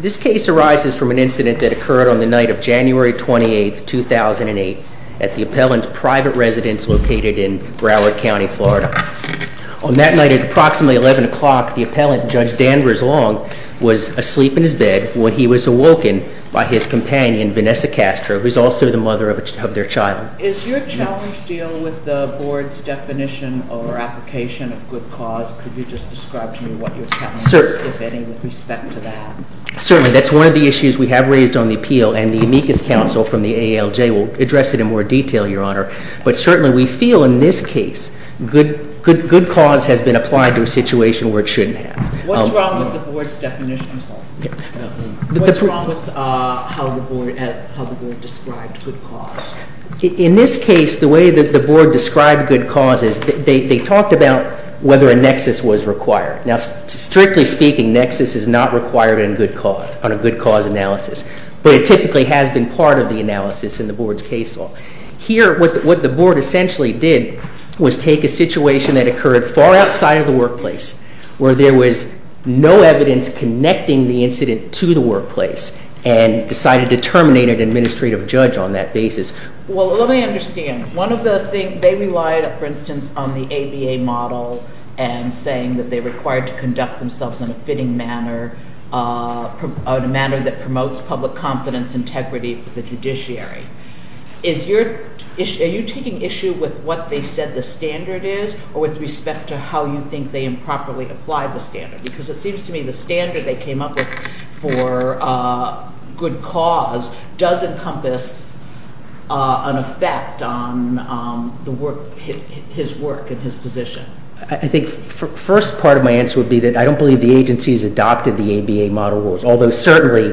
This case arises from an incident that occurred on the night of January 28th, 2008 at the appellant's private residence located in Broward County, Florida. On that night at approximately 11 o'clock, the appellant, Judge Danvers Long, was asleep in his bed when he was awoken by his companion, Vanessa Castro, who's also the mother of their child. Is your challenge deal with the board's definition or application of good cause? Could you just describe to me what your challenge is, if any, with respect to that? Certainly. That's one of the issues we have raised on the appeal, and the amicus counsel from the ALJ will address it in more detail, Your Honor. But certainly, we feel in this case, good cause has been applied to a situation where it shouldn't have. What's wrong with the board's definition? I'm sorry. What's wrong with how the board described good cause? In this case, the way that the board described good cause is they talked about whether a nexus was required. Now, strictly speaking, nexus is not required on a good cause analysis, but it typically has been part of the analysis in the board's case law. Here, what the board essentially did was take a situation that occurred far outside of the workplace, where there was no evidence connecting the incident to the workplace, and decided to terminate an administrative judge on that basis. Well, let me understand. One of the things, they relied, for instance, on the ABA model and saying that they required to conduct themselves in a fitting manner, in a manner that promotes public confidence, integrity for the judiciary. Are you taking issue with what they said the standard is, or with respect to how you think they improperly applied the standard? Because it seems to me the standard they came up with for good cause does encompass an effect on his work and his position. I think the first part of my answer would be that I don't believe the agency has adopted the ABA model rules, although certainly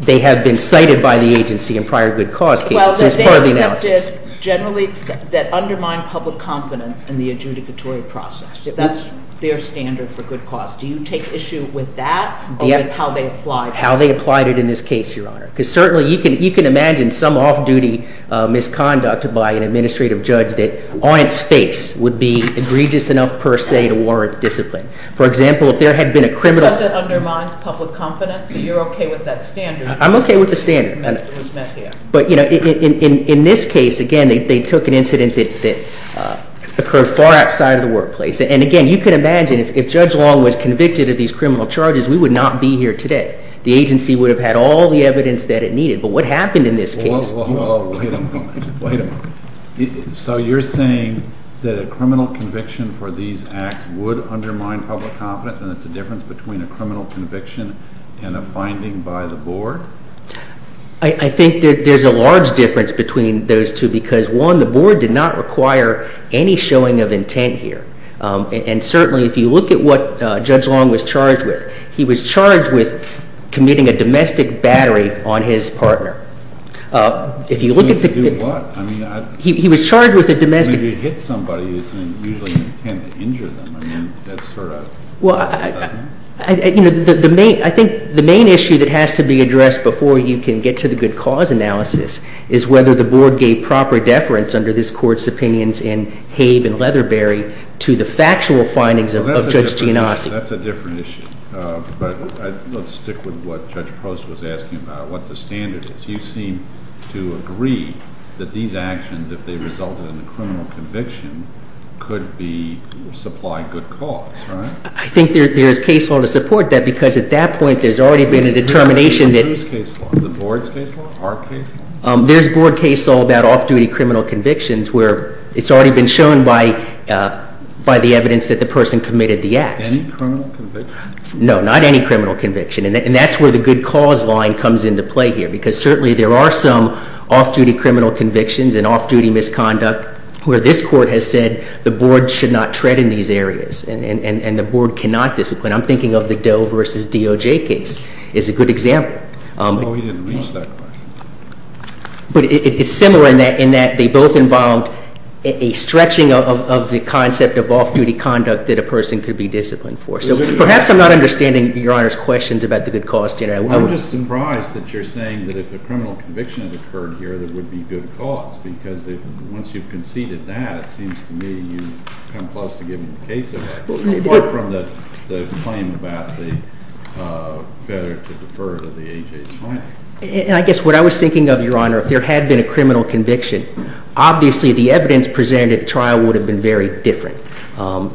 they have been cited by the agency in prior good cause cases. Well, they accepted generally that undermined public confidence in the adjudicatory process. That's their standard for good cause. Do you take issue with that, or with how they applied it? How they applied it in this case, Your Honor. Because certainly you can imagine some off-duty misconduct by an administrative judge that on its face would be egregious enough, per se, to warrant discipline. For example, if there had been a criminal- Because it undermines public confidence, so you're okay with that standard? I'm okay with the standard. It was met here. But in this case, again, they took an incident that occurred far outside of the workplace. And again, you can imagine if Judge Long was convicted of these criminal charges, we would not be here today. The agency would have had all the evidence that it needed. But what happened in this case- Oh, wait a moment. Wait a moment. So you're saying that a criminal conviction for these acts would undermine public confidence, and it's a difference between a criminal conviction and a finding by the board? I think that there's a large difference between those two because, one, the board did not require any showing of intent here. And certainly, if you look at what Judge Long was charged with, he was charged with committing a domestic battery on his partner. If you look at the- Doing what? I mean, I- He was charged with a domestic- Maybe he hit somebody, and he's using an intent to injure them. I mean, that's sort of- Well, I think the main issue that has to be addressed before you can get to the good cause analysis is whether the board gave proper deference under this court's opinions in Habe and Leatherberry to the factual findings of Judge Giannossi. That's a different issue. But let's stick with what Judge Post was asking about, what the standard is. You seem to agree that these actions, if they resulted in a criminal conviction, could be supplied good cause, right? I think there's case law to support that because at that point, there's already been a determination that- Who's case law? The board's case law? Our case law? There's board case law about off-duty criminal convictions where it's already been shown by the evidence that the person committed the acts. Any criminal conviction? No, not any criminal conviction. And that's where the good cause line comes into play here because certainly there are some off-duty criminal convictions and off-duty misconduct where this court has said the board should not tread in these areas, and the board cannot discipline. I'm thinking of the Doe versus DOJ case is a good example. Oh, we didn't reach that question. But it's similar in that they both involved a stretching of the concept of off-duty conduct that a person could be disciplined for. So perhaps I'm not understanding Your Honor's questions about the good cause standard. I'm just surprised that you're saying that if a criminal conviction had occurred here, there would be good cause. Because once you've conceded that, it seems to me you've come close to giving a case of that. Apart from the claim about the better to defer to the AJ's finance. And I guess what I was thinking of, Your Honor, if there had been a criminal conviction, obviously the evidence presented at the trial would have been very different.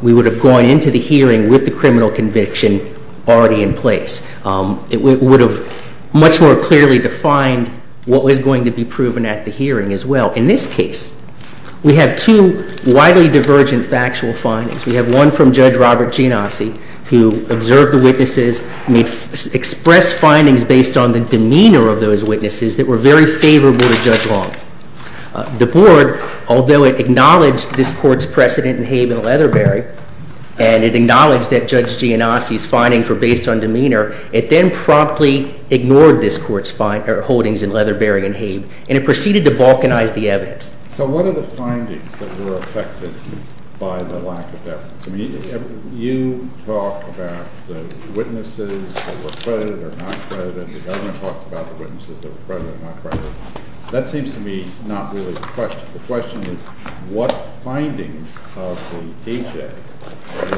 We would have gone into the hearing with the criminal conviction already in place. It would have much more clearly defined what was going to be proven at the hearing as well. In this case, we have two widely divergent factual findings. We have one from Judge Robert Genasi, who observed the witnesses, made expressed findings based on the demeanor of those witnesses that were very favorable to Judge Long. The board, although it acknowledged this court's precedent in Habe and Leatherbury. And it acknowledged that Judge Genasi's findings were based on demeanor. It then promptly ignored this court's holdings in Leatherbury and Habe, and it proceeded to balkanize the evidence. So what are the findings that were affected by the lack of evidence? You talk about the witnesses that were credited or not credited. The government talks about the witnesses that were credited or not credited. That seems to me not really the question. The question is, what findings of the AJ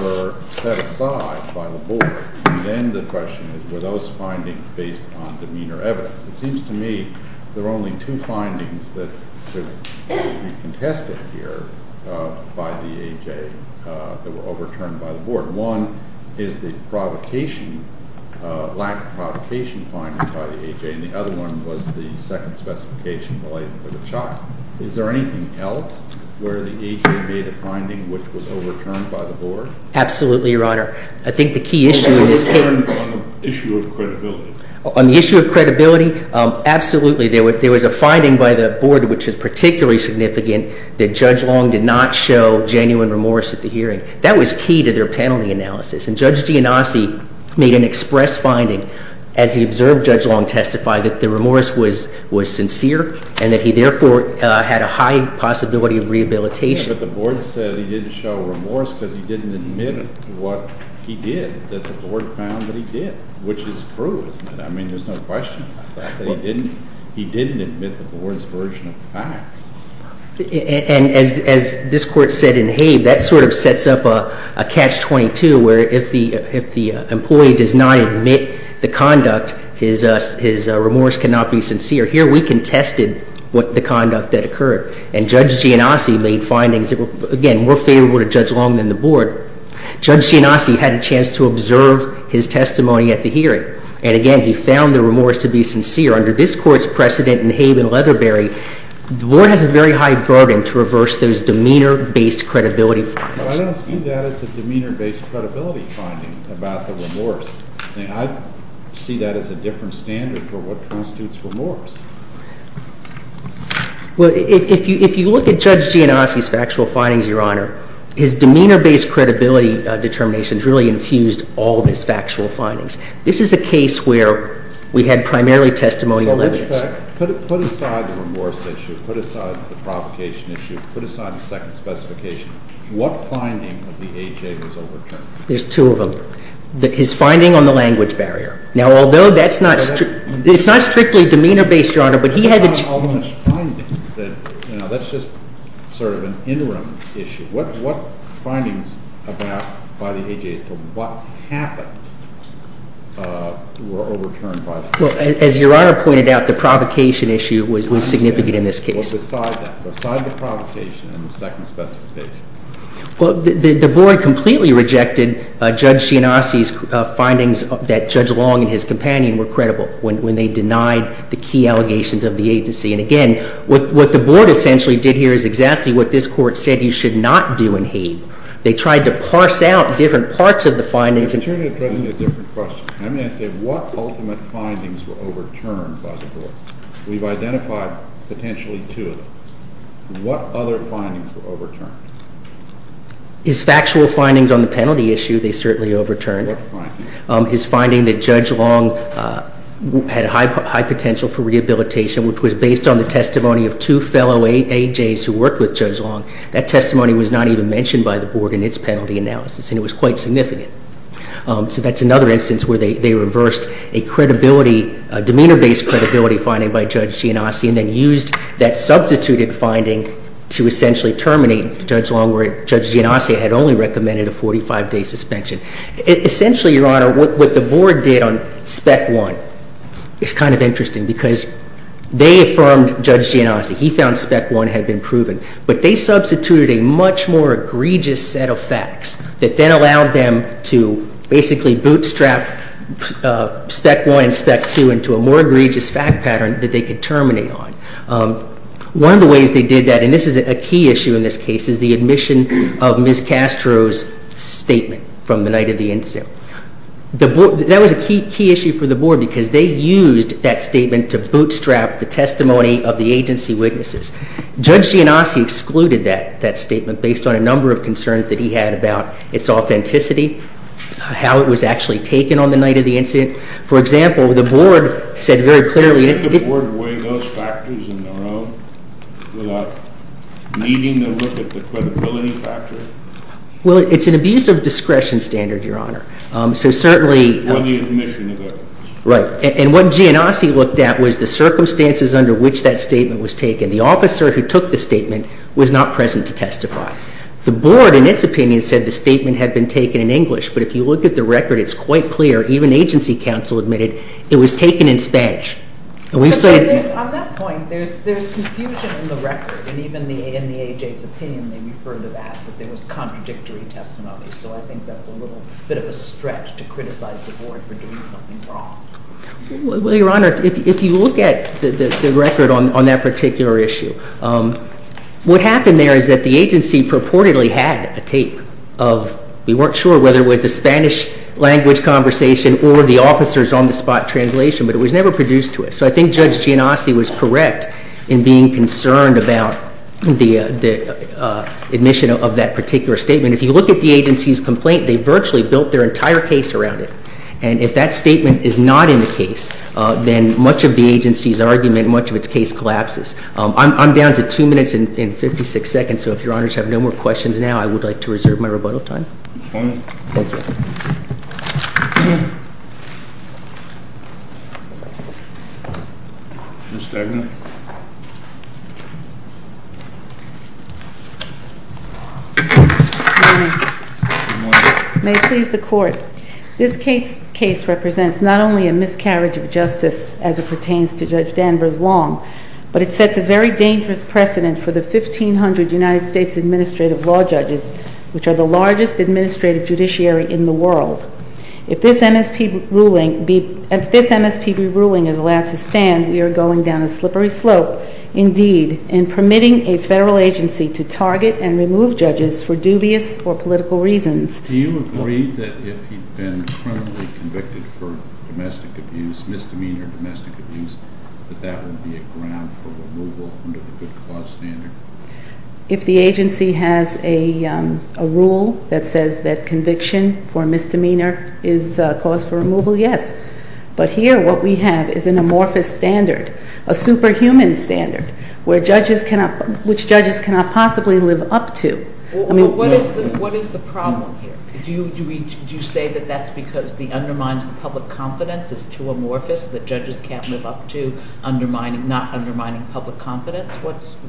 were set aside by the board? And then the question is, were those findings based on demeanor evidence? It seems to me there are only two findings that could be contested here by the AJ that were overturned by the board. One is the lack of provocation finding by the AJ, and the other one was the second specification related to the chop. Is there anything else where the AJ made a finding which was overturned by the board? Absolutely, Your Honor. I think the key issue in this case- On the issue of credibility. On the issue of credibility, absolutely. There was a finding by the board which is particularly significant that Judge Long did not show genuine remorse at the hearing. That was key to their penalty analysis. And Judge Giannassi made an express finding as he observed Judge Long testify that the remorse was sincere and that he therefore had a high possibility of rehabilitation. But the board said he didn't show remorse because he didn't admit what he did, that the board found that he did. Which is true, isn't it? I mean, there's no question about that, that he didn't admit the board's version of the facts. And as this court said in Habe, that sort of sets up a catch-22 where if the employee does not admit the conduct, his remorse cannot be sincere. Here we contested the conduct that occurred. And Judge Giannassi made findings that were, again, more favorable to Judge Long than the board. Judge Giannassi had a chance to observe his testimony at the hearing. However, under this court's precedent in Habe and Leatherbury, the board has a very high burden to reverse those demeanor-based credibility findings. But I don't see that as a demeanor-based credibility finding about the remorse thing. I see that as a different standard for what constitutes remorse. Well, if you look at Judge Giannassi's factual findings, Your Honor, his demeanor-based credibility determinations really infused all of his factual findings. This is a case where we had primarily testimonial evidence. So in effect, put aside the remorse issue, put aside the provocation issue, put aside the second specification. What finding of the AHA was overturned? There's two of them. His finding on the language barrier. Now, although that's not strictly demeanor-based, Your Honor, but he had the- That's not an almost finding. That's just sort of an interim issue. What findings about, by the AHA, what happened were overturned by the- Well, as Your Honor pointed out, the provocation issue was significant in this case. Well, beside that, beside the provocation and the second specification. Well, the board completely rejected Judge Giannassi's findings that Judge Long and his companion were credible when they denied the key allegations of the agency. And again, what the board essentially did here is exactly what this court said you should not do in Hague. They tried to parse out different parts of the findings. I'm trying to address a different question. I'm going to say, what ultimate findings were overturned by the board? We've identified potentially two of them. What other findings were overturned? His factual findings on the penalty issue, they certainly overturned. What findings? His finding that Judge Long had high potential for rehabilitation, which was based on the testimony of two fellow AJs who worked with Judge Long. That testimony was not even mentioned by the board in its penalty analysis, and it was quite significant. So that's another instance where they reversed a credibility, a demeanor-based credibility finding by Judge Giannassi, and then used that substituted finding to essentially terminate Judge Long, where Judge Giannassi had only recommended a 45-day suspension. Essentially, Your Honor, what the board did on spec one is kind of interesting, because they affirmed Judge Giannassi. He found spec one had been proven. But they substituted a much more egregious set of facts that then allowed them to basically bootstrap spec one and spec two into a more egregious fact pattern that they could terminate on. One of the ways they did that, and this is a key issue in this case, is the admission of Ms. Castro's statement from the night of the incident. That was a key issue for the board, because they used that statement to bootstrap the testimony of the agency witnesses. Judge Giannassi excluded that statement based on a number of concerns that he had about its authenticity, how it was actually taken on the night of the incident. For example, the board said very clearly- Did the board weigh those factors in their own without needing to look at the credibility factor? Well, it's an abuse of discretion standard, Your Honor. So certainly- Or the admission of it. Right. And what Giannassi looked at was the circumstances under which that statement was taken. The officer who took the statement was not present to testify. The board, in its opinion, said the statement had been taken in English. But if you look at the record, it's quite clear, even agency counsel admitted, it was taken in Spanish. On that point, there's confusion in the record, and even in the AJ's opinion, they refer to that, that there was contradictory testimony. So I think that's a little bit of a stretch to criticize the board for doing something wrong. Well, Your Honor, if you look at the record on that particular issue, what happened there is that the agency purportedly had a tape of- we weren't sure whether it was the Spanish-language conversation or the officer's on-the-spot translation, but it was never produced to us. So I think Judge Giannassi was correct in being concerned about the admission of that particular statement. If you look at the agency's complaint, they virtually built their entire case around it. And if that statement is not in the case, then much of the agency's argument, much of its case collapses. I'm down to two minutes and 56 seconds, so if Your Honors have no more questions now, I would like to reserve my rebuttal time. Okay. Thank you. Ms. Stegner. Good morning. Good morning. May it please the Court. This case represents not only a miscarriage of justice as it pertains to Judge Danvers Long, but it sets a very dangerous precedent for the 1,500 United States Administrative Law Judges, which are the largest administrative judiciary in the world. If this MSPB ruling is allowed to stand, we are going down a slippery slope, indeed, in permitting a federal agency to target and remove judges for dubious or political reasons. Do you agree that if he'd been criminally convicted for domestic abuse, misdemeanor domestic abuse, that that would be a ground for removal under the good cause standard? If the agency has a rule that says that conviction for misdemeanor is a cause for removal, yes. But here, what we have is an amorphous standard, a superhuman standard, which judges cannot possibly live up to. I mean- What is the problem here? Do you say that that's because it undermines the public confidence? It's too amorphous that judges can't live up to not undermining public confidence?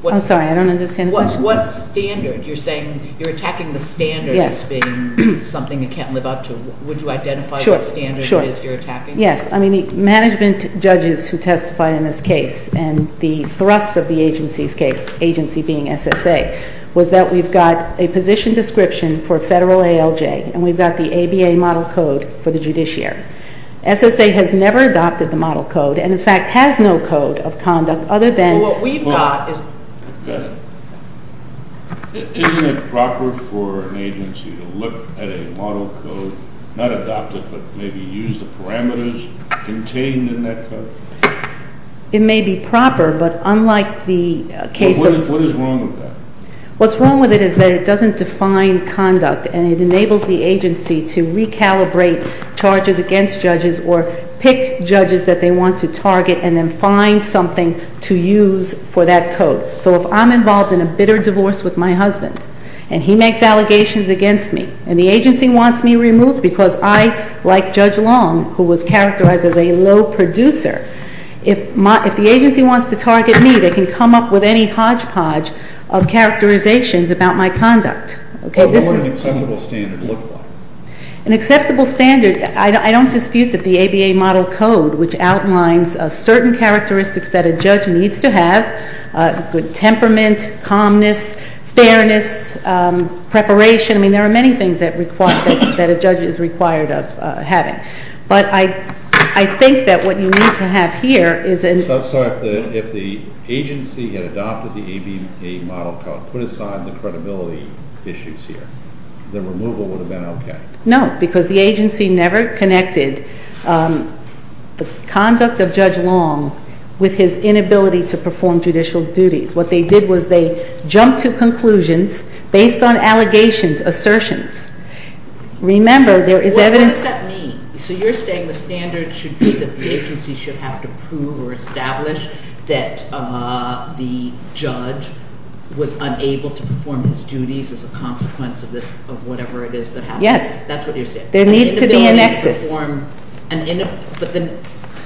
I'm sorry, I don't understand the question. What standard? You're saying you're attacking the standard as being something you can't live up to. Would you identify what standard it is you're attacking? Sure, sure. Yes. I mean, the management judges who testified in this case and the thrust of the agency's case, agency being SSA, was that we've got a position description for federal ALJ, and we've got the ABA model code for the judiciary. SSA has never adopted the model code and, in fact, has no code of conduct other than- Well, what we've got is- Go ahead. Isn't it proper for an agency to look at a model code, not adopt it, but maybe use the parameters contained in that code? It may be proper, but unlike the case of- What is wrong with that? What's wrong with it is that it doesn't define conduct, and it enables the agency to recalibrate charges against judges or pick judges that they want to target and then find something to use for that code. So if I'm involved in a bitter divorce with my husband, and he makes allegations against me, and the agency wants me removed because I, like Judge Long, who was characterized as a low producer, if the agency wants to target me, they can come up with any hodgepodge of characterizations about my conduct. Okay, this is- What would an acceptable standard look like? An acceptable standard, I don't dispute that the ABA model code, which outlines certain characteristics that a judge needs to have, good temperament, calmness, fairness, preparation. I mean, there are many things that a judge is required of having. But I think that what you need to have here is- I'm sorry. If the agency had adopted the ABA model code, put aside the credibility issues here, the removal would have been okay. No, because the agency never connected the conduct of Judge Long with his inability to perform judicial duties. What they did was they jumped to conclusions based on allegations, assertions. Remember, there is evidence- What does that mean? So you're saying the standard should be that the agency should have to prove or establish that the judge was unable to perform his duties as a consequence of whatever it is that happened? Yes. That's what you're saying? There needs to be a nexus.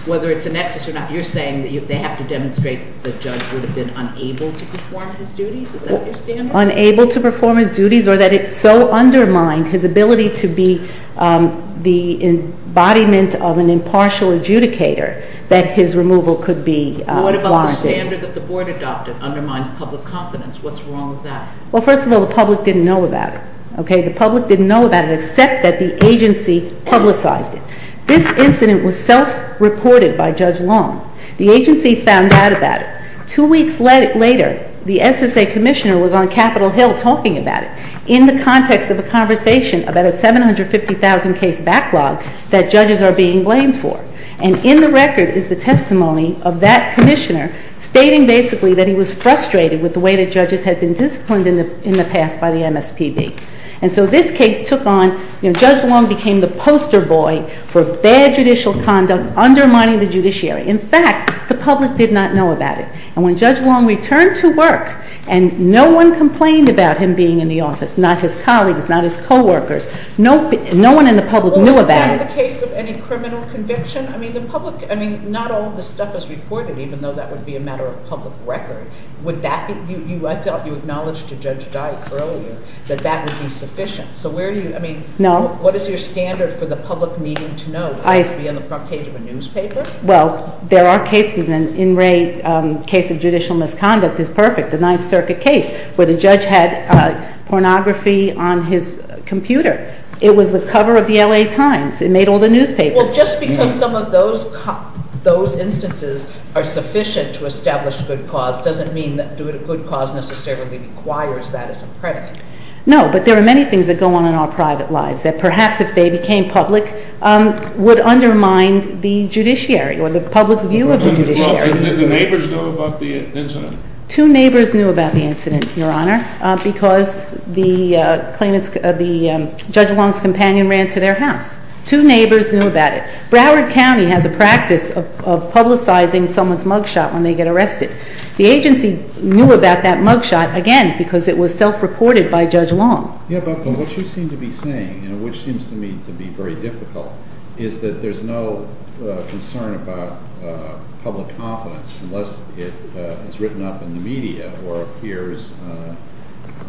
Whether it's a nexus or not, you're saying that they have to demonstrate that the judge would have been unable to perform his duties? Is that your standard? Unable to perform his duties or that it so undermined his ability to be the embodiment of an impartial adjudicator that his removal could be wanted? What about the standard that the board adopted undermined public confidence? What's wrong with that? Well, first of all, the public didn't know about it. Okay? The public didn't know about it except that the agency publicized it. This incident was self-reported by Judge Long. The agency found out about it. Two weeks later, the SSA commissioner was on Capitol Hill talking about it in the context of a conversation about a 750,000 case backlog that judges are being blamed for. And in the record is the testimony of that commissioner stating basically that he was frustrated with the way that judges had been disciplined in the past by the MSPB. And so this case took on, you know, Judge Long became the poster boy for bad judicial conduct, undermining the judiciary. In fact, the public did not know about it. And when Judge Long returned to work and no one complained about him being in the office, not his colleagues, not his coworkers, no one in the public knew about it. Was that the case of any criminal conviction? I mean, the public, I mean, not all of this stuff is reported even though that would be a matter of public record. Would that be, I thought you acknowledged to Judge Dyke earlier that that would be sufficient. So where do you, I mean. No. What is your standard for the public needing to know? I. To be on the front page of a newspaper? Well, there are cases, and in Ray's case of judicial misconduct is perfect. The Ninth Circuit case where the judge had pornography on his computer. It was the cover of the LA Times. It made all the newspapers. Well, just because some of those instances are sufficient to establish good cause doesn't mean that good cause necessarily requires that as a precedent. No, but there are many things that go on in our private lives that perhaps if they became public would undermine the judiciary or the public's view of the judiciary. Did the neighbors know about the incident? Two neighbors knew about the incident, Your Honor, because the claimants, the Judge Long's companion ran to their house. Two neighbors knew about it. Broward County has a practice of publicizing someone's mugshot when they get arrested. The agency knew about that mugshot, again, because it was self-reported by Judge Long. Yeah, but what you seem to be saying, which seems to me to be very difficult, is that there's no concern about public confidence unless it is written up in the media or appears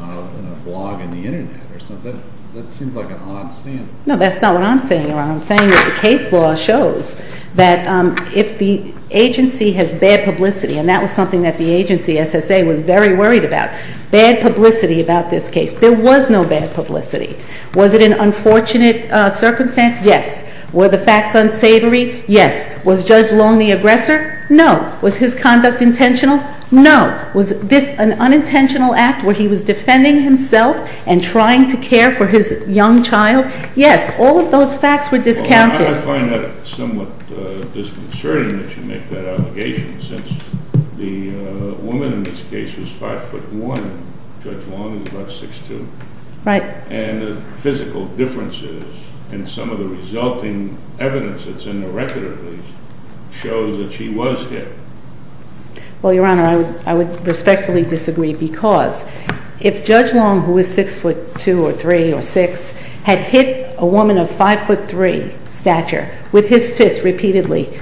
on a blog in the Internet or something. That seems like an odd standard. No, that's not what I'm saying, Your Honor. What I'm saying is the case law shows that if the agency has bad publicity, and that was something that the agency, SSA, was very worried about, bad publicity about this case. There was no bad publicity. Was it an unfortunate circumstance? Yes. Were the facts unsavory? Yes. Was Judge Long the aggressor? No. Was his conduct intentional? No. Was this an unintentional act where he was defending himself and trying to care for his young child? Yes, all of those facts were discounted. Well, I find that somewhat disconcerting that you make that allegation, since the woman in this case was 5'1", and Judge Long was about 6'2". Right. And the physical differences in some of the resulting evidence that's in the record, at least, shows that she was hit. Well, Your Honor, I would respectfully disagree, because if Judge Long, who was 6'2", or 3", or 6", had hit a woman of 5'3", stature, with his fist repeatedly,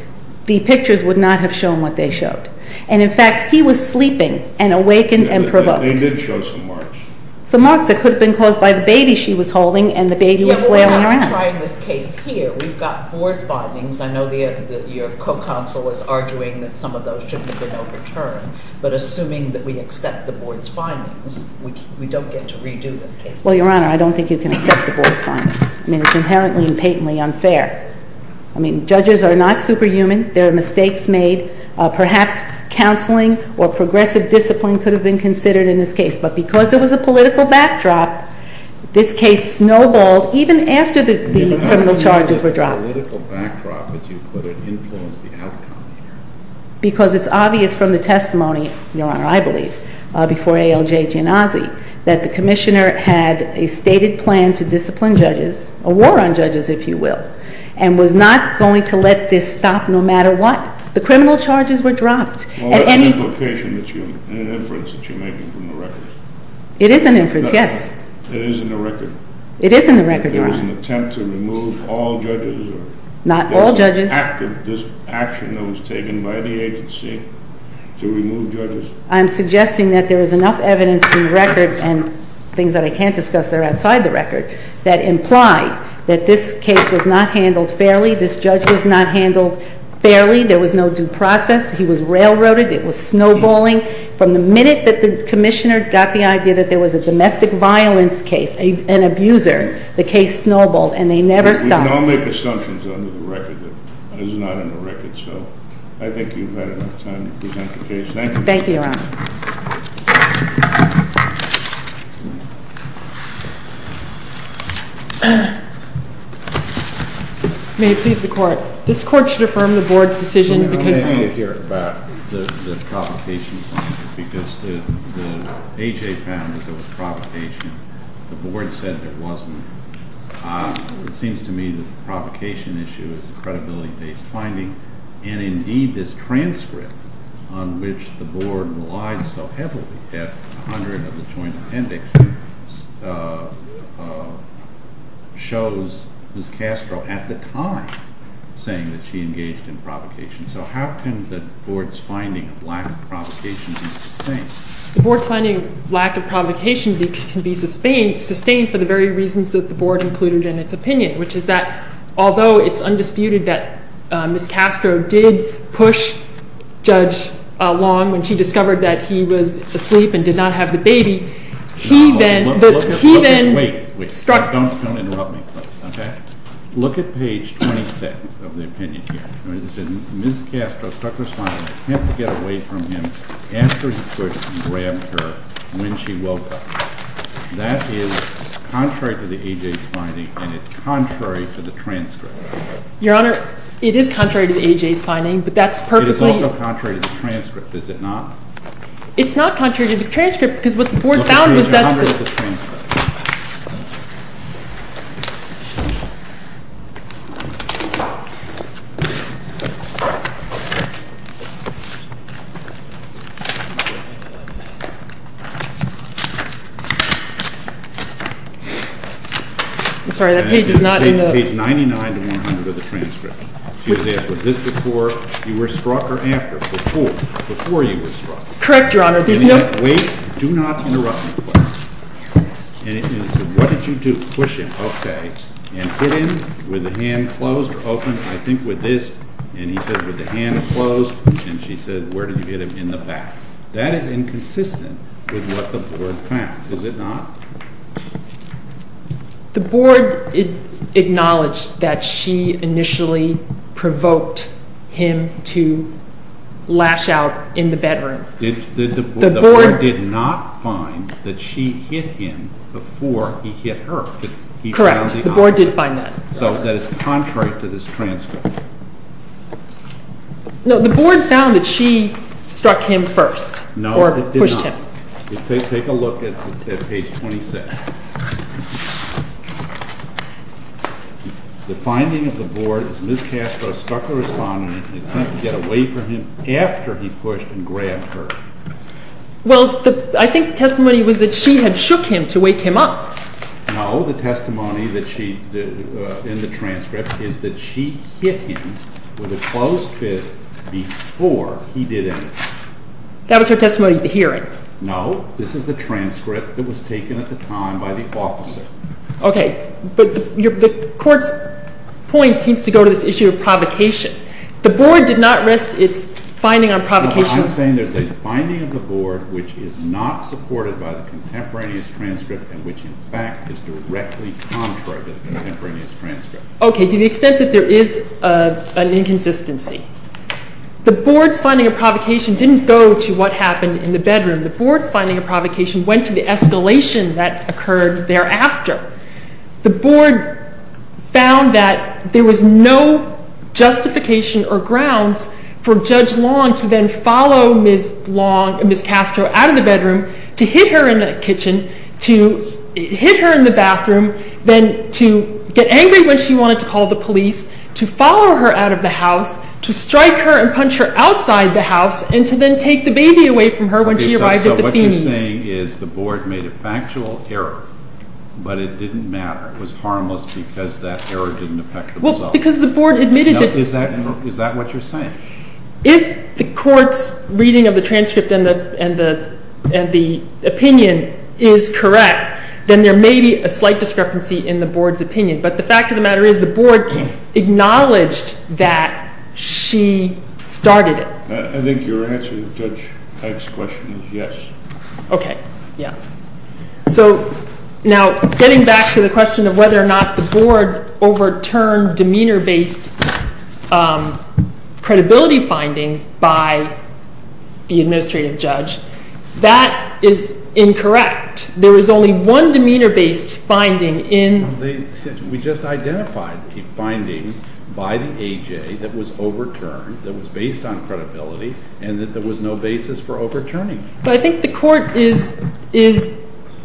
the pictures would not have shown what they showed. And, in fact, he was sleeping, and awakened, and provoked. They did show some marks. Some marks that could have been caused by the baby she was holding, and the baby was flailing around. I'm trying this case here. We've got board findings. I know your co-counsel is arguing that some of those shouldn't have been overturned. But assuming that we accept the board's findings, we don't get to redo this case. Well, Your Honor, I don't think you can accept the board's findings. I mean, it's inherently and patently unfair. I mean, judges are not superhuman. There are mistakes made. Perhaps counseling or progressive discipline could have been considered in this case. But because there was a political backdrop, this case snowballed even after the criminal charges were dropped. Even after the political backdrop, as you put it, influenced the outcome. Because it's obvious from the testimony, Your Honor, I believe, before ALJ Genasi, that the Commissioner had a stated plan to discipline judges, a war on judges, if you will, and was not going to let this stop no matter what. The criminal charges were dropped. Well, what's the implication, the inference that you're making from the record? It is an inference, yes. It is in the record. It is in the record, Your Honor. There was an attempt to remove all judges. Not all judges. This action that was taken by the agency to remove judges. I'm suggesting that there is enough evidence in the record and things that I can't discuss that are outside the record that imply that this case was not handled fairly. This judge was not handled fairly. There was no due process. He was railroaded. It was snowballing. From the minute that the Commissioner got the idea that there was a domestic violence case, an abuser, the case snowballed. And they never stopped. We can all make assumptions under the record, but it is not in the record. So I think you've had enough time to present the case. Thank you. Thank you, Your Honor. May it please the Court. This Court should affirm the Board's decision because I didn't hear about the provocation finding because the A.J. found that there was provocation. The Board said there wasn't. It seems to me that the provocation issue is a credibility-based finding. And, indeed, this transcript on which the Board relied so heavily at 100 of the Joint Appendix shows Ms. Castro at the time saying that she engaged in provocation. So how can the Board's finding of lack of provocation be sustained? The Board's finding of lack of provocation can be sustained for the very reasons that the Board included in its opinion, which is that although it's undisputed that Ms. Castro did push Judge Long when she discovered that he was asleep and did not have the baby, he then struck her. Wait, wait. Don't interrupt me, please. Okay? Look at page 20 of the opinion here. It says Ms. Castro struck her spine and attempted to get away from him after he could and grabbed her when she woke up. That is contrary to the A.J.'s finding, and it's contrary to the transcript. Your Honor, it is contrary to the A.J.'s finding, but that's perfectly— It is also contrary to the transcript, is it not? It's not contrary to the transcript because what the Board found was that— Look at page 100 of the transcript. I'm sorry, that page is not in the— Page 99 to 100 of the transcript. She was asked, was this before you were struck or after? Before. Before you were struck. Correct, Your Honor. There's no— Wait. Do not interrupt me, please. And it said, what did you do? Push him. Okay. And hit him with the hand closed or open? I think with this. And he said with the hand closed. And she said, where did you hit him? In the back. That is inconsistent with what the Board found, is it not? The Board acknowledged that she initially provoked him to lash out in the bedroom. The Board did not find that she hit him before he hit her. Correct. The Board did find that. So that is contrary to this transcript. No, the Board found that she struck him first or pushed him. No, it did not. Take a look at page 26. The finding of the Board is Ms. Castro struck a respondent and attempted to get away from him after he pushed and grabbed her. Well, I think the testimony was that she had shook him to wake him up. No, the testimony in the transcript is that she hit him with a closed fist before he did anything. That was her testimony at the hearing. No, this is the transcript that was taken at the time by the officer. Okay. But the Court's point seems to go to this issue of provocation. The Board did not rest its finding on provocation. I'm saying there's a finding of the Board which is not supported by the contemporaneous transcript and which, in fact, is directly contrary to the contemporaneous transcript. Okay, to the extent that there is an inconsistency. The Board's finding of provocation didn't go to what happened in the bedroom. The Board's finding of provocation went to the escalation that occurred thereafter. The Board found that there was no justification or grounds for Judge Long to then follow Ms. Castro out of the bedroom, to hit her in the kitchen, to hit her in the bathroom, then to get angry when she wanted to call the police, to follow her out of the house, to strike her and punch her outside the house, and to then take the baby away from her when she arrived at the Phoenix. What you're saying is the Board made a factual error, but it didn't matter. It was harmless because that error didn't affect the result. Well, because the Board admitted that... No, is that what you're saying? If the Court's reading of the transcript and the opinion is correct, then there may be a slight discrepancy in the Board's opinion. But the fact of the matter is the Board acknowledged that she started it. I think your answer to Judge Hegg's question is yes. Okay, yes. So now getting back to the question of whether or not the Board overturned demeanor-based credibility findings by the administrative judge, that is incorrect. There is only one demeanor-based finding in... We just identified a finding by the A.J. that was overturned, that was based on credibility, and that there was no basis for overturning it. But I think the Court is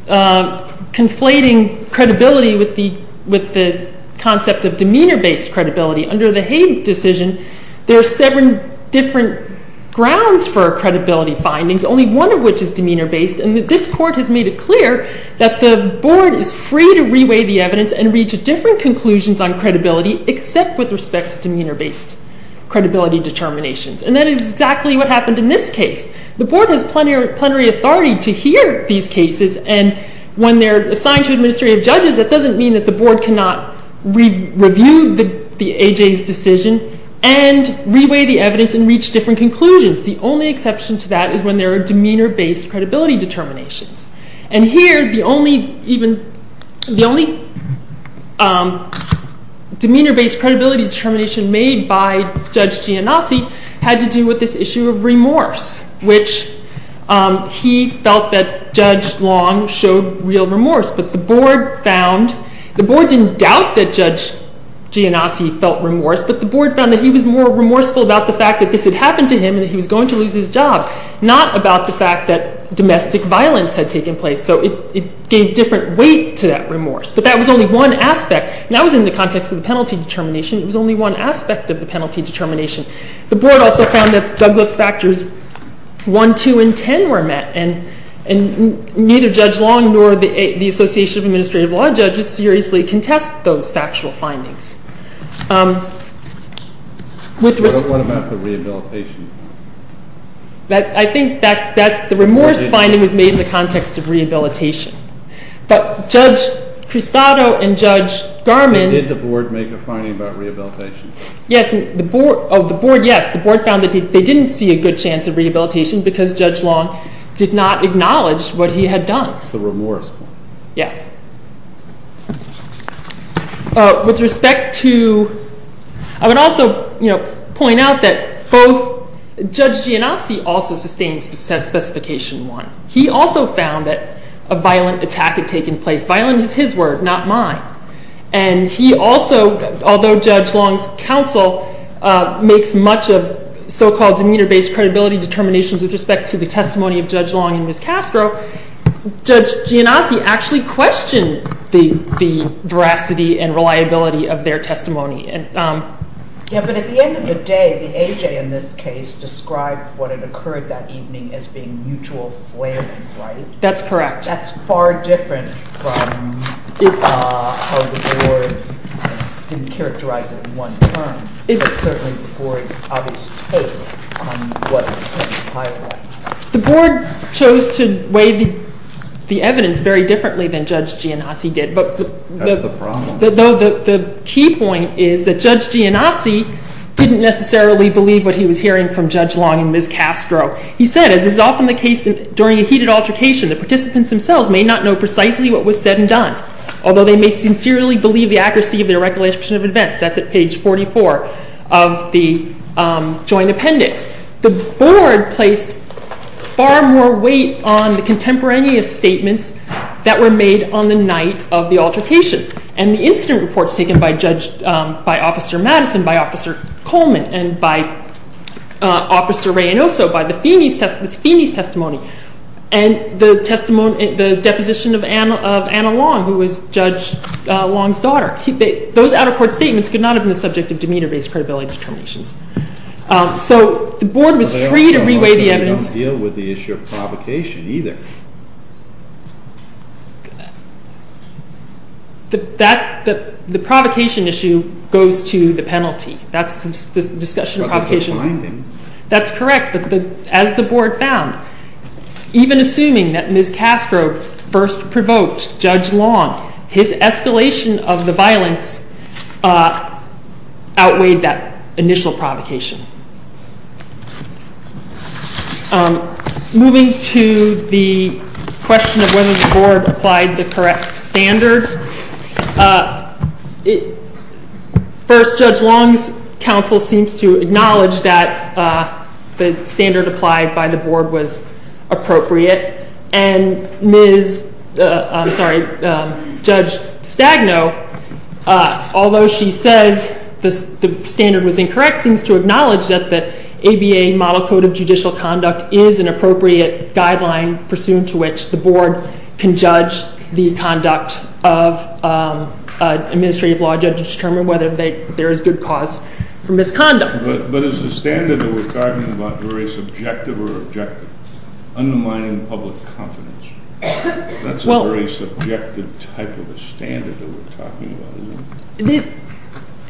conflating credibility with the concept of demeanor-based credibility. Under the Hegg decision, there are seven different grounds for credibility findings, only one of which is demeanor-based, and this Court has made it clear that the Board is free to reweigh the evidence and reach different conclusions on credibility except with respect to demeanor-based credibility determinations. And that is exactly what happened in this case. The Board has plenary authority to hear these cases, and when they're assigned to administrative judges, that doesn't mean that the Board cannot review the A.J.'s decision and reweigh the evidence and reach different conclusions. The only exception to that is when there are demeanor-based credibility determinations. And here, the only demeanor-based credibility determination made by Judge Giannassi had to do with this issue of remorse, which he felt that Judge Long showed real remorse. But the Board found... The Board didn't doubt that Judge Giannassi felt remorse, but the Board found that he was more remorseful about the fact that this had happened to him and that he was going to lose his job, not about the fact that domestic violence had taken place. So it gave different weight to that remorse. But that was only one aspect, and that was in the context of the penalty determination. It was only one aspect of the penalty determination. The Board also found that Douglas factors 1, 2, and 10 were met, and neither Judge Long nor the Association of Administrative Law Judges seriously contest those factual findings. What about the rehabilitation? I think that the remorse finding was made in the context of rehabilitation. But Judge Cristado and Judge Garman... Did the Board make a finding about rehabilitation? Yes. The Board, yes. The Board found that they didn't see a good chance of rehabilitation because Judge Long did not acknowledge what he had done. It's the remorse. Yes. With respect to... I would also point out that both Judge Giannassi also sustained Specification 1. He also found that a violent attack had taken place. Violent is his word, not mine. And he also, although Judge Long's counsel makes much of so-called demeanor-based credibility determinations with respect to the testimony of Judge Long and Ms. Castro, Judge Giannassi actually questioned the veracity and reliability of their testimony. Yeah, but at the end of the day, the A.J. in this case described what had occurred that evening as being mutual flailing, right? That's correct. That's far different from how the Board didn't characterize it in one term. But certainly the Board's obvious take on what was highlighted. The Board chose to weigh the evidence very differently than Judge Giannassi did. That's the problem. The key point is that Judge Giannassi didn't necessarily believe what he was hearing from Judge Long and Ms. Castro. He said, as is often the case during a heated altercation, the participants themselves may not know precisely what was said and done, although they may sincerely believe the accuracy of their recollection of events. That's at page 44 of the joint appendix. The Board placed far more weight on the contemporaneous statements that were made on the night of the altercation and the incident reports taken by Officer Madison, by Officer Coleman, and by Officer Reynoso, by the Phoenix testimony, and the deposition of Anna Long, who was Judge Long's daughter. Those out-of-court statements could not have been the subject of demeanor-based credibility determinations. So the Board was free to re-weigh the evidence. But they also don't deal with the issue of provocation either. The provocation issue goes to the penalty. That's the discussion of provocation. But that's a finding. That's correct. As the Board found, even assuming that Ms. Castro first provoked Judge Long, his escalation of the violence outweighed that initial provocation. Moving to the question of whether the Board applied the correct standard. First, Judge Long's counsel seems to acknowledge that the standard applied by the Board was appropriate. And Judge Stagno, although she says the standard was incorrect, seems to acknowledge that the ABA Model Code of Judicial Conduct is an appropriate guideline pursuant to which the Board can judge the conduct of administrative law judges to determine whether there is good cause for misconduct. But is the standard that we're talking about very subjective or objective? Undermining public confidence. That's a very subjective type of a standard that we're talking about, isn't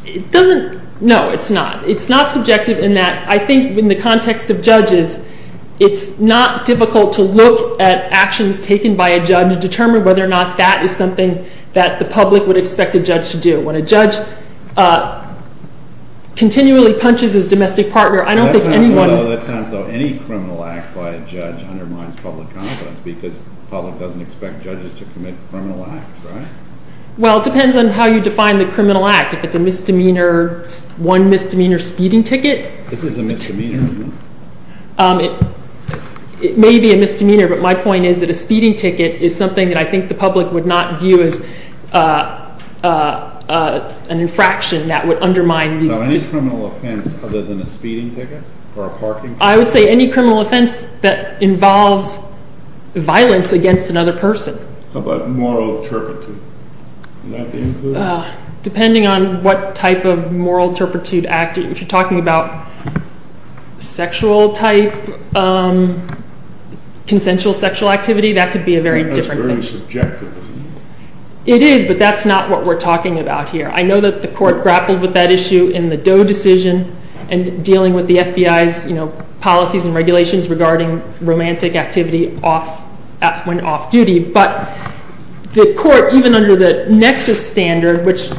it? No, it's not. It's not subjective in that I think in the context of judges, it's not difficult to look at actions taken by a judge to determine whether or not that is something that the public would expect a judge to do. When a judge continually punches his domestic partner, I don't think anyone... That sounds as though any criminal act by a judge undermines public confidence because the public doesn't expect judges to commit criminal acts, right? Well, it depends on how you define the criminal act. If it's a misdemeanor, one misdemeanor speeding ticket... This is a misdemeanor, isn't it? It may be a misdemeanor, but my point is that a speeding ticket is something that I think the public would not view as an infraction that would undermine... So any criminal offense other than a speeding ticket or a parking ticket? I would say any criminal offense that involves violence against another person. How about moral turpitude? Depending on what type of moral turpitude act... If you're talking about sexual type, consensual sexual activity, that could be a very different thing. That's very subjective. It is, but that's not what we're talking about here. I know that the court grappled with that issue in the Doe decision and dealing with the FBI's policies and regulations regarding romantic activity when off-duty, but the court, even under the nexus standard, which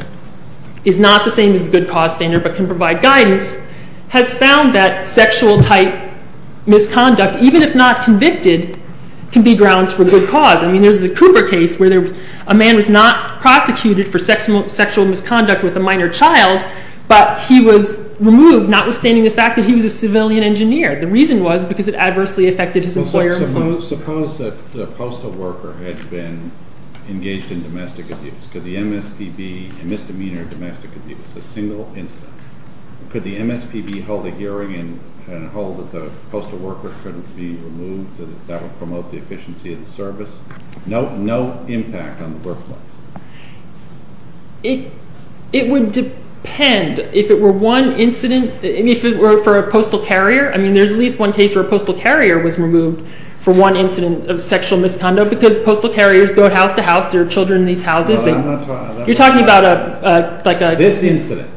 is not the same as the good cause standard but can provide guidance, has found that sexual type misconduct, even if not convicted, can be grounds for good cause. I mean, there's the Cooper case where a man was not prosecuted for sexual misconduct with a minor child, but he was removed, notwithstanding the fact that he was a civilian engineer. The reason was because it adversely affected his employer employment. Suppose that the postal worker had been engaged in domestic abuse. Could the MSPB, a misdemeanor of domestic abuse, a single incident, could the MSPB hold a hearing and hold that the postal worker couldn't be removed so that that would promote the efficiency of the service? No impact on the workplace. It would depend if it were one incident, if it were for a postal carrier. I mean, there's at least one case where a postal carrier was removed for one incident of sexual misconduct because postal carriers go house to house. There are children in these houses. You're talking about like a- This incident,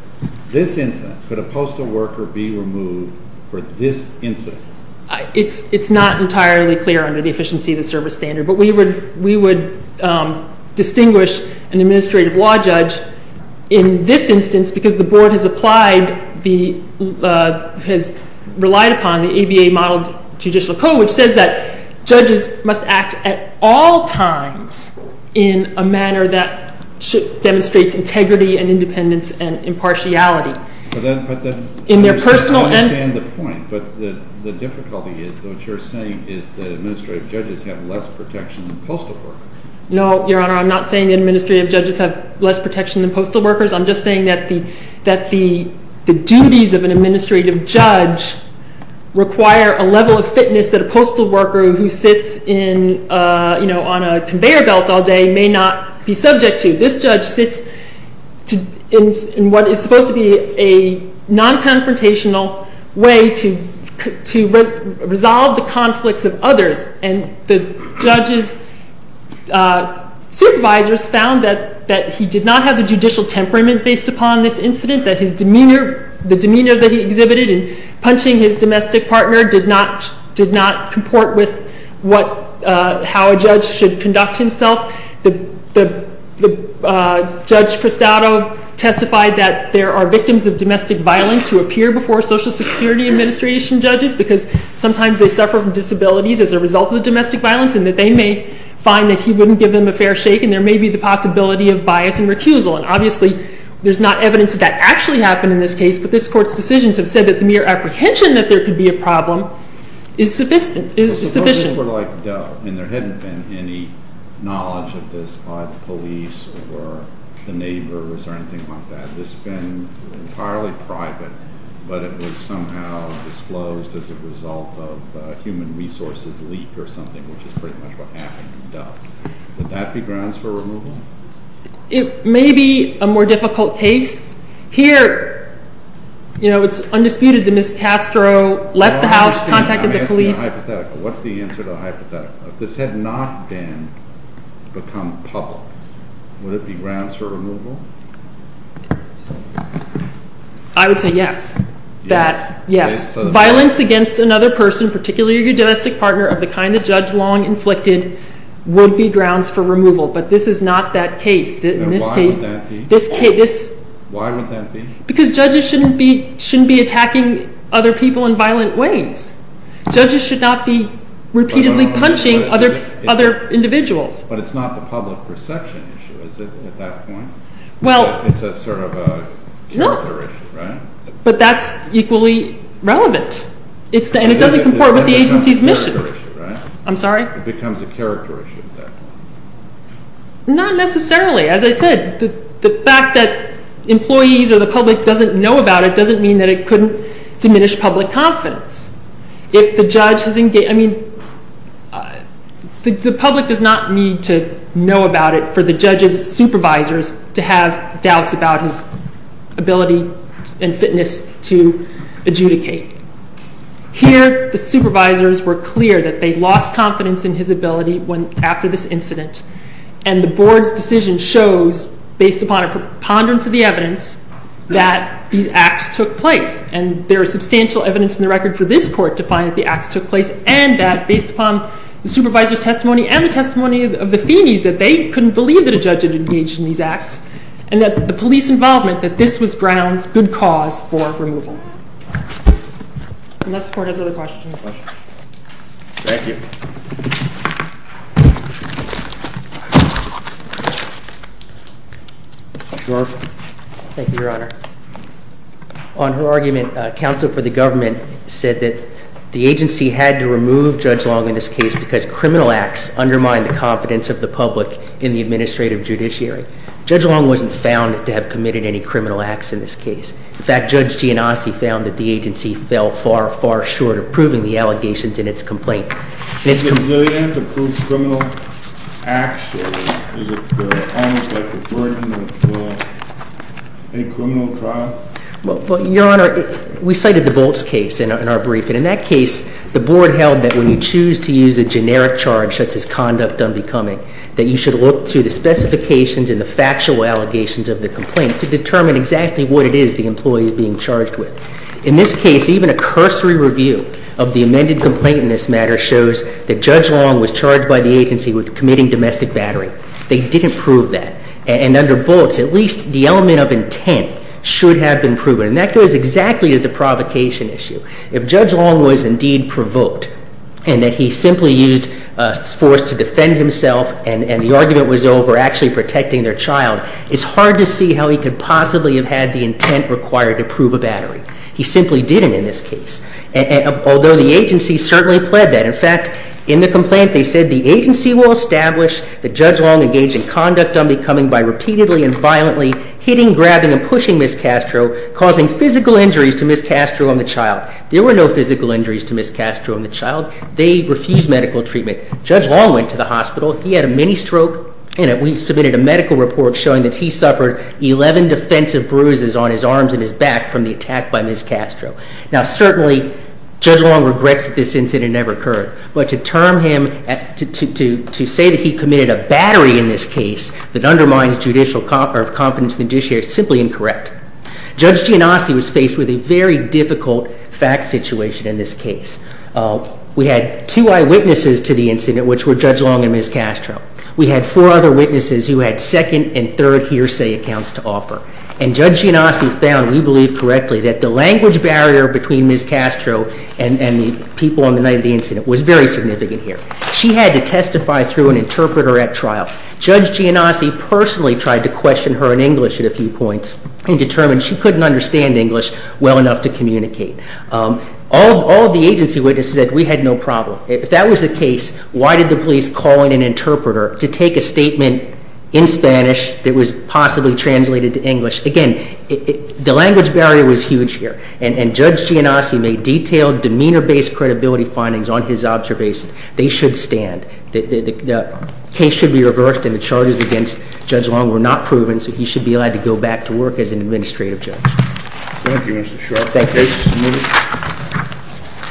this incident, could a postal worker be removed for this incident? It's not entirely clear under the efficiency of the service standard, but we would distinguish an administrative law judge in this instance because the board has relied upon the ABA-modeled judicial code, which says that judges must act at all times in a manner that demonstrates integrity and independence and impartiality. But that's- In their personal- I understand the point, but the difficulty is that what you're saying is that administrative judges have less protection than postal workers. No, Your Honor, I'm not saying administrative judges have less protection than postal workers. I'm just saying that the duties of an administrative judge require a level of fitness that a postal worker who sits on a conveyor belt all day may not be subject to. This judge sits in what is supposed to be a non-confrontational way to resolve the conflicts of others, and the judge's supervisors found that he did not have the judicial temperament based upon this incident, that the demeanor that he exhibited in punching his domestic partner did not comport with how a judge should conduct himself. Judge Cristado testified that there are victims of domestic violence who appear before social security administration judges because sometimes they suffer from disabilities as a result of the domestic violence and that they may find that he wouldn't give them a fair shake and there may be the possibility of bias and recusal. And obviously, there's not evidence that that actually happened in this case, but this Court's decisions have said that the mere apprehension that there could be a problem is sufficient. If the voters were like Dove and there hadn't been any knowledge of this by the police or the neighbors or anything like that, this had been entirely private, but it was somehow disclosed as a result of a human resources leak or something, which is pretty much what happened in Dove. Would that be grounds for removal? It may be a more difficult case. Here, you know, it's undisputed that Ms. Castro left the house, contacted the police. Let me ask you a hypothetical. What's the answer to the hypothetical? If this had not become public, would it be grounds for removal? I would say yes. Yes. Violence against another person, particularly your domestic partner of the kind that Judge Long inflicted, would be grounds for removal, but this is not that case. Why would that be? Because judges shouldn't be attacking other people in violent ways. Judges should not be repeatedly punching other individuals. But it's not the public perception issue, is it, at that point? It's a sort of character issue, right? No, but that's equally relevant, and it doesn't comport with the agency's mission. It becomes a character issue, right? I'm sorry? Not necessarily. As I said, the fact that employees or the public doesn't know about it doesn't mean that it couldn't diminish public confidence. If the judge has engaged, I mean, the public does not need to know about it for the judge's supervisors to have doubts about his ability and fitness to adjudicate. Here, the supervisors were clear that they lost confidence in his ability after this incident, and the board's decision shows, based upon a preponderance of the evidence, that these acts took place. And there is substantial evidence in the record for this court to find that the acts took place and that, based upon the supervisor's testimony and the testimony of the Feeneys, that they couldn't believe that a judge had engaged in these acts and that the police involvement, that this was grounds, good cause, for removal. Unless the court has other questions. Thank you. Judge Roth. Thank you, Your Honor. On her argument, counsel for the government said that the agency had to remove Judge Long in this case because criminal acts undermined the confidence of the public in the administrative judiciary. Judge Long wasn't found to have committed any criminal acts in this case. In fact, Judge Giannassi found that the agency fell far, far short of proving the allegations in its complaint. Do you have to prove criminal acts, or is it almost like a burden of a criminal trial? Well, Your Honor, we cited the Bolts case in our brief, and in that case, the board held that when you choose to use a generic charge such as conduct unbecoming, that you should look to the specifications and the factual allegations of the complaint to determine exactly what it is, that the employee is being charged with. In this case, even a cursory review of the amended complaint in this matter shows that Judge Long was charged by the agency with committing domestic battery. They didn't prove that. And under Bolts, at least the element of intent should have been proven, and that goes exactly to the provocation issue. If Judge Long was indeed provoked and that he simply used force to defend himself and the argument was over actually protecting their child, it's hard to see how he could possibly have had the intent required to prove a battery. He simply didn't in this case, although the agency certainly pled that. In fact, in the complaint they said, the agency will establish that Judge Long engaged in conduct unbecoming by repeatedly and violently hitting, grabbing, and pushing Ms. Castro, causing physical injuries to Ms. Castro and the child. There were no physical injuries to Ms. Castro and the child. They refused medical treatment. Judge Long went to the hospital. He had a mini-stroke, and we submitted a medical report showing that he suffered 11 defensive bruises on his arms and his back from the attack by Ms. Castro. Now certainly Judge Long regrets that this incident never occurred, but to say that he committed a battery in this case that undermines judicial competence in the judiciary is simply incorrect. Judge Giannosti was faced with a very difficult fact situation in this case. We had two eyewitnesses to the incident, which were Judge Long and Ms. Castro. We had four other witnesses who had second and third hearsay accounts to offer, and Judge Giannosti found, we believe correctly, that the language barrier between Ms. Castro and the people on the night of the incident was very significant here. She had to testify through an interpreter at trial. Judge Giannosti personally tried to question her in English at a few points and determined she couldn't understand English well enough to communicate. All of the agency witnesses said, we had no problem. If that was the case, why did the police call in an interpreter to take a statement in Spanish that was possibly translated to English? Again, the language barrier was huge here, and Judge Giannosti made detailed, demeanor-based credibility findings on his observation. They should stand. The case should be reversed, and the charges against Judge Long were not proven, so he should be allowed to go back to work as an administrative judge. Thank you, Mr. Sheriff. Thank you.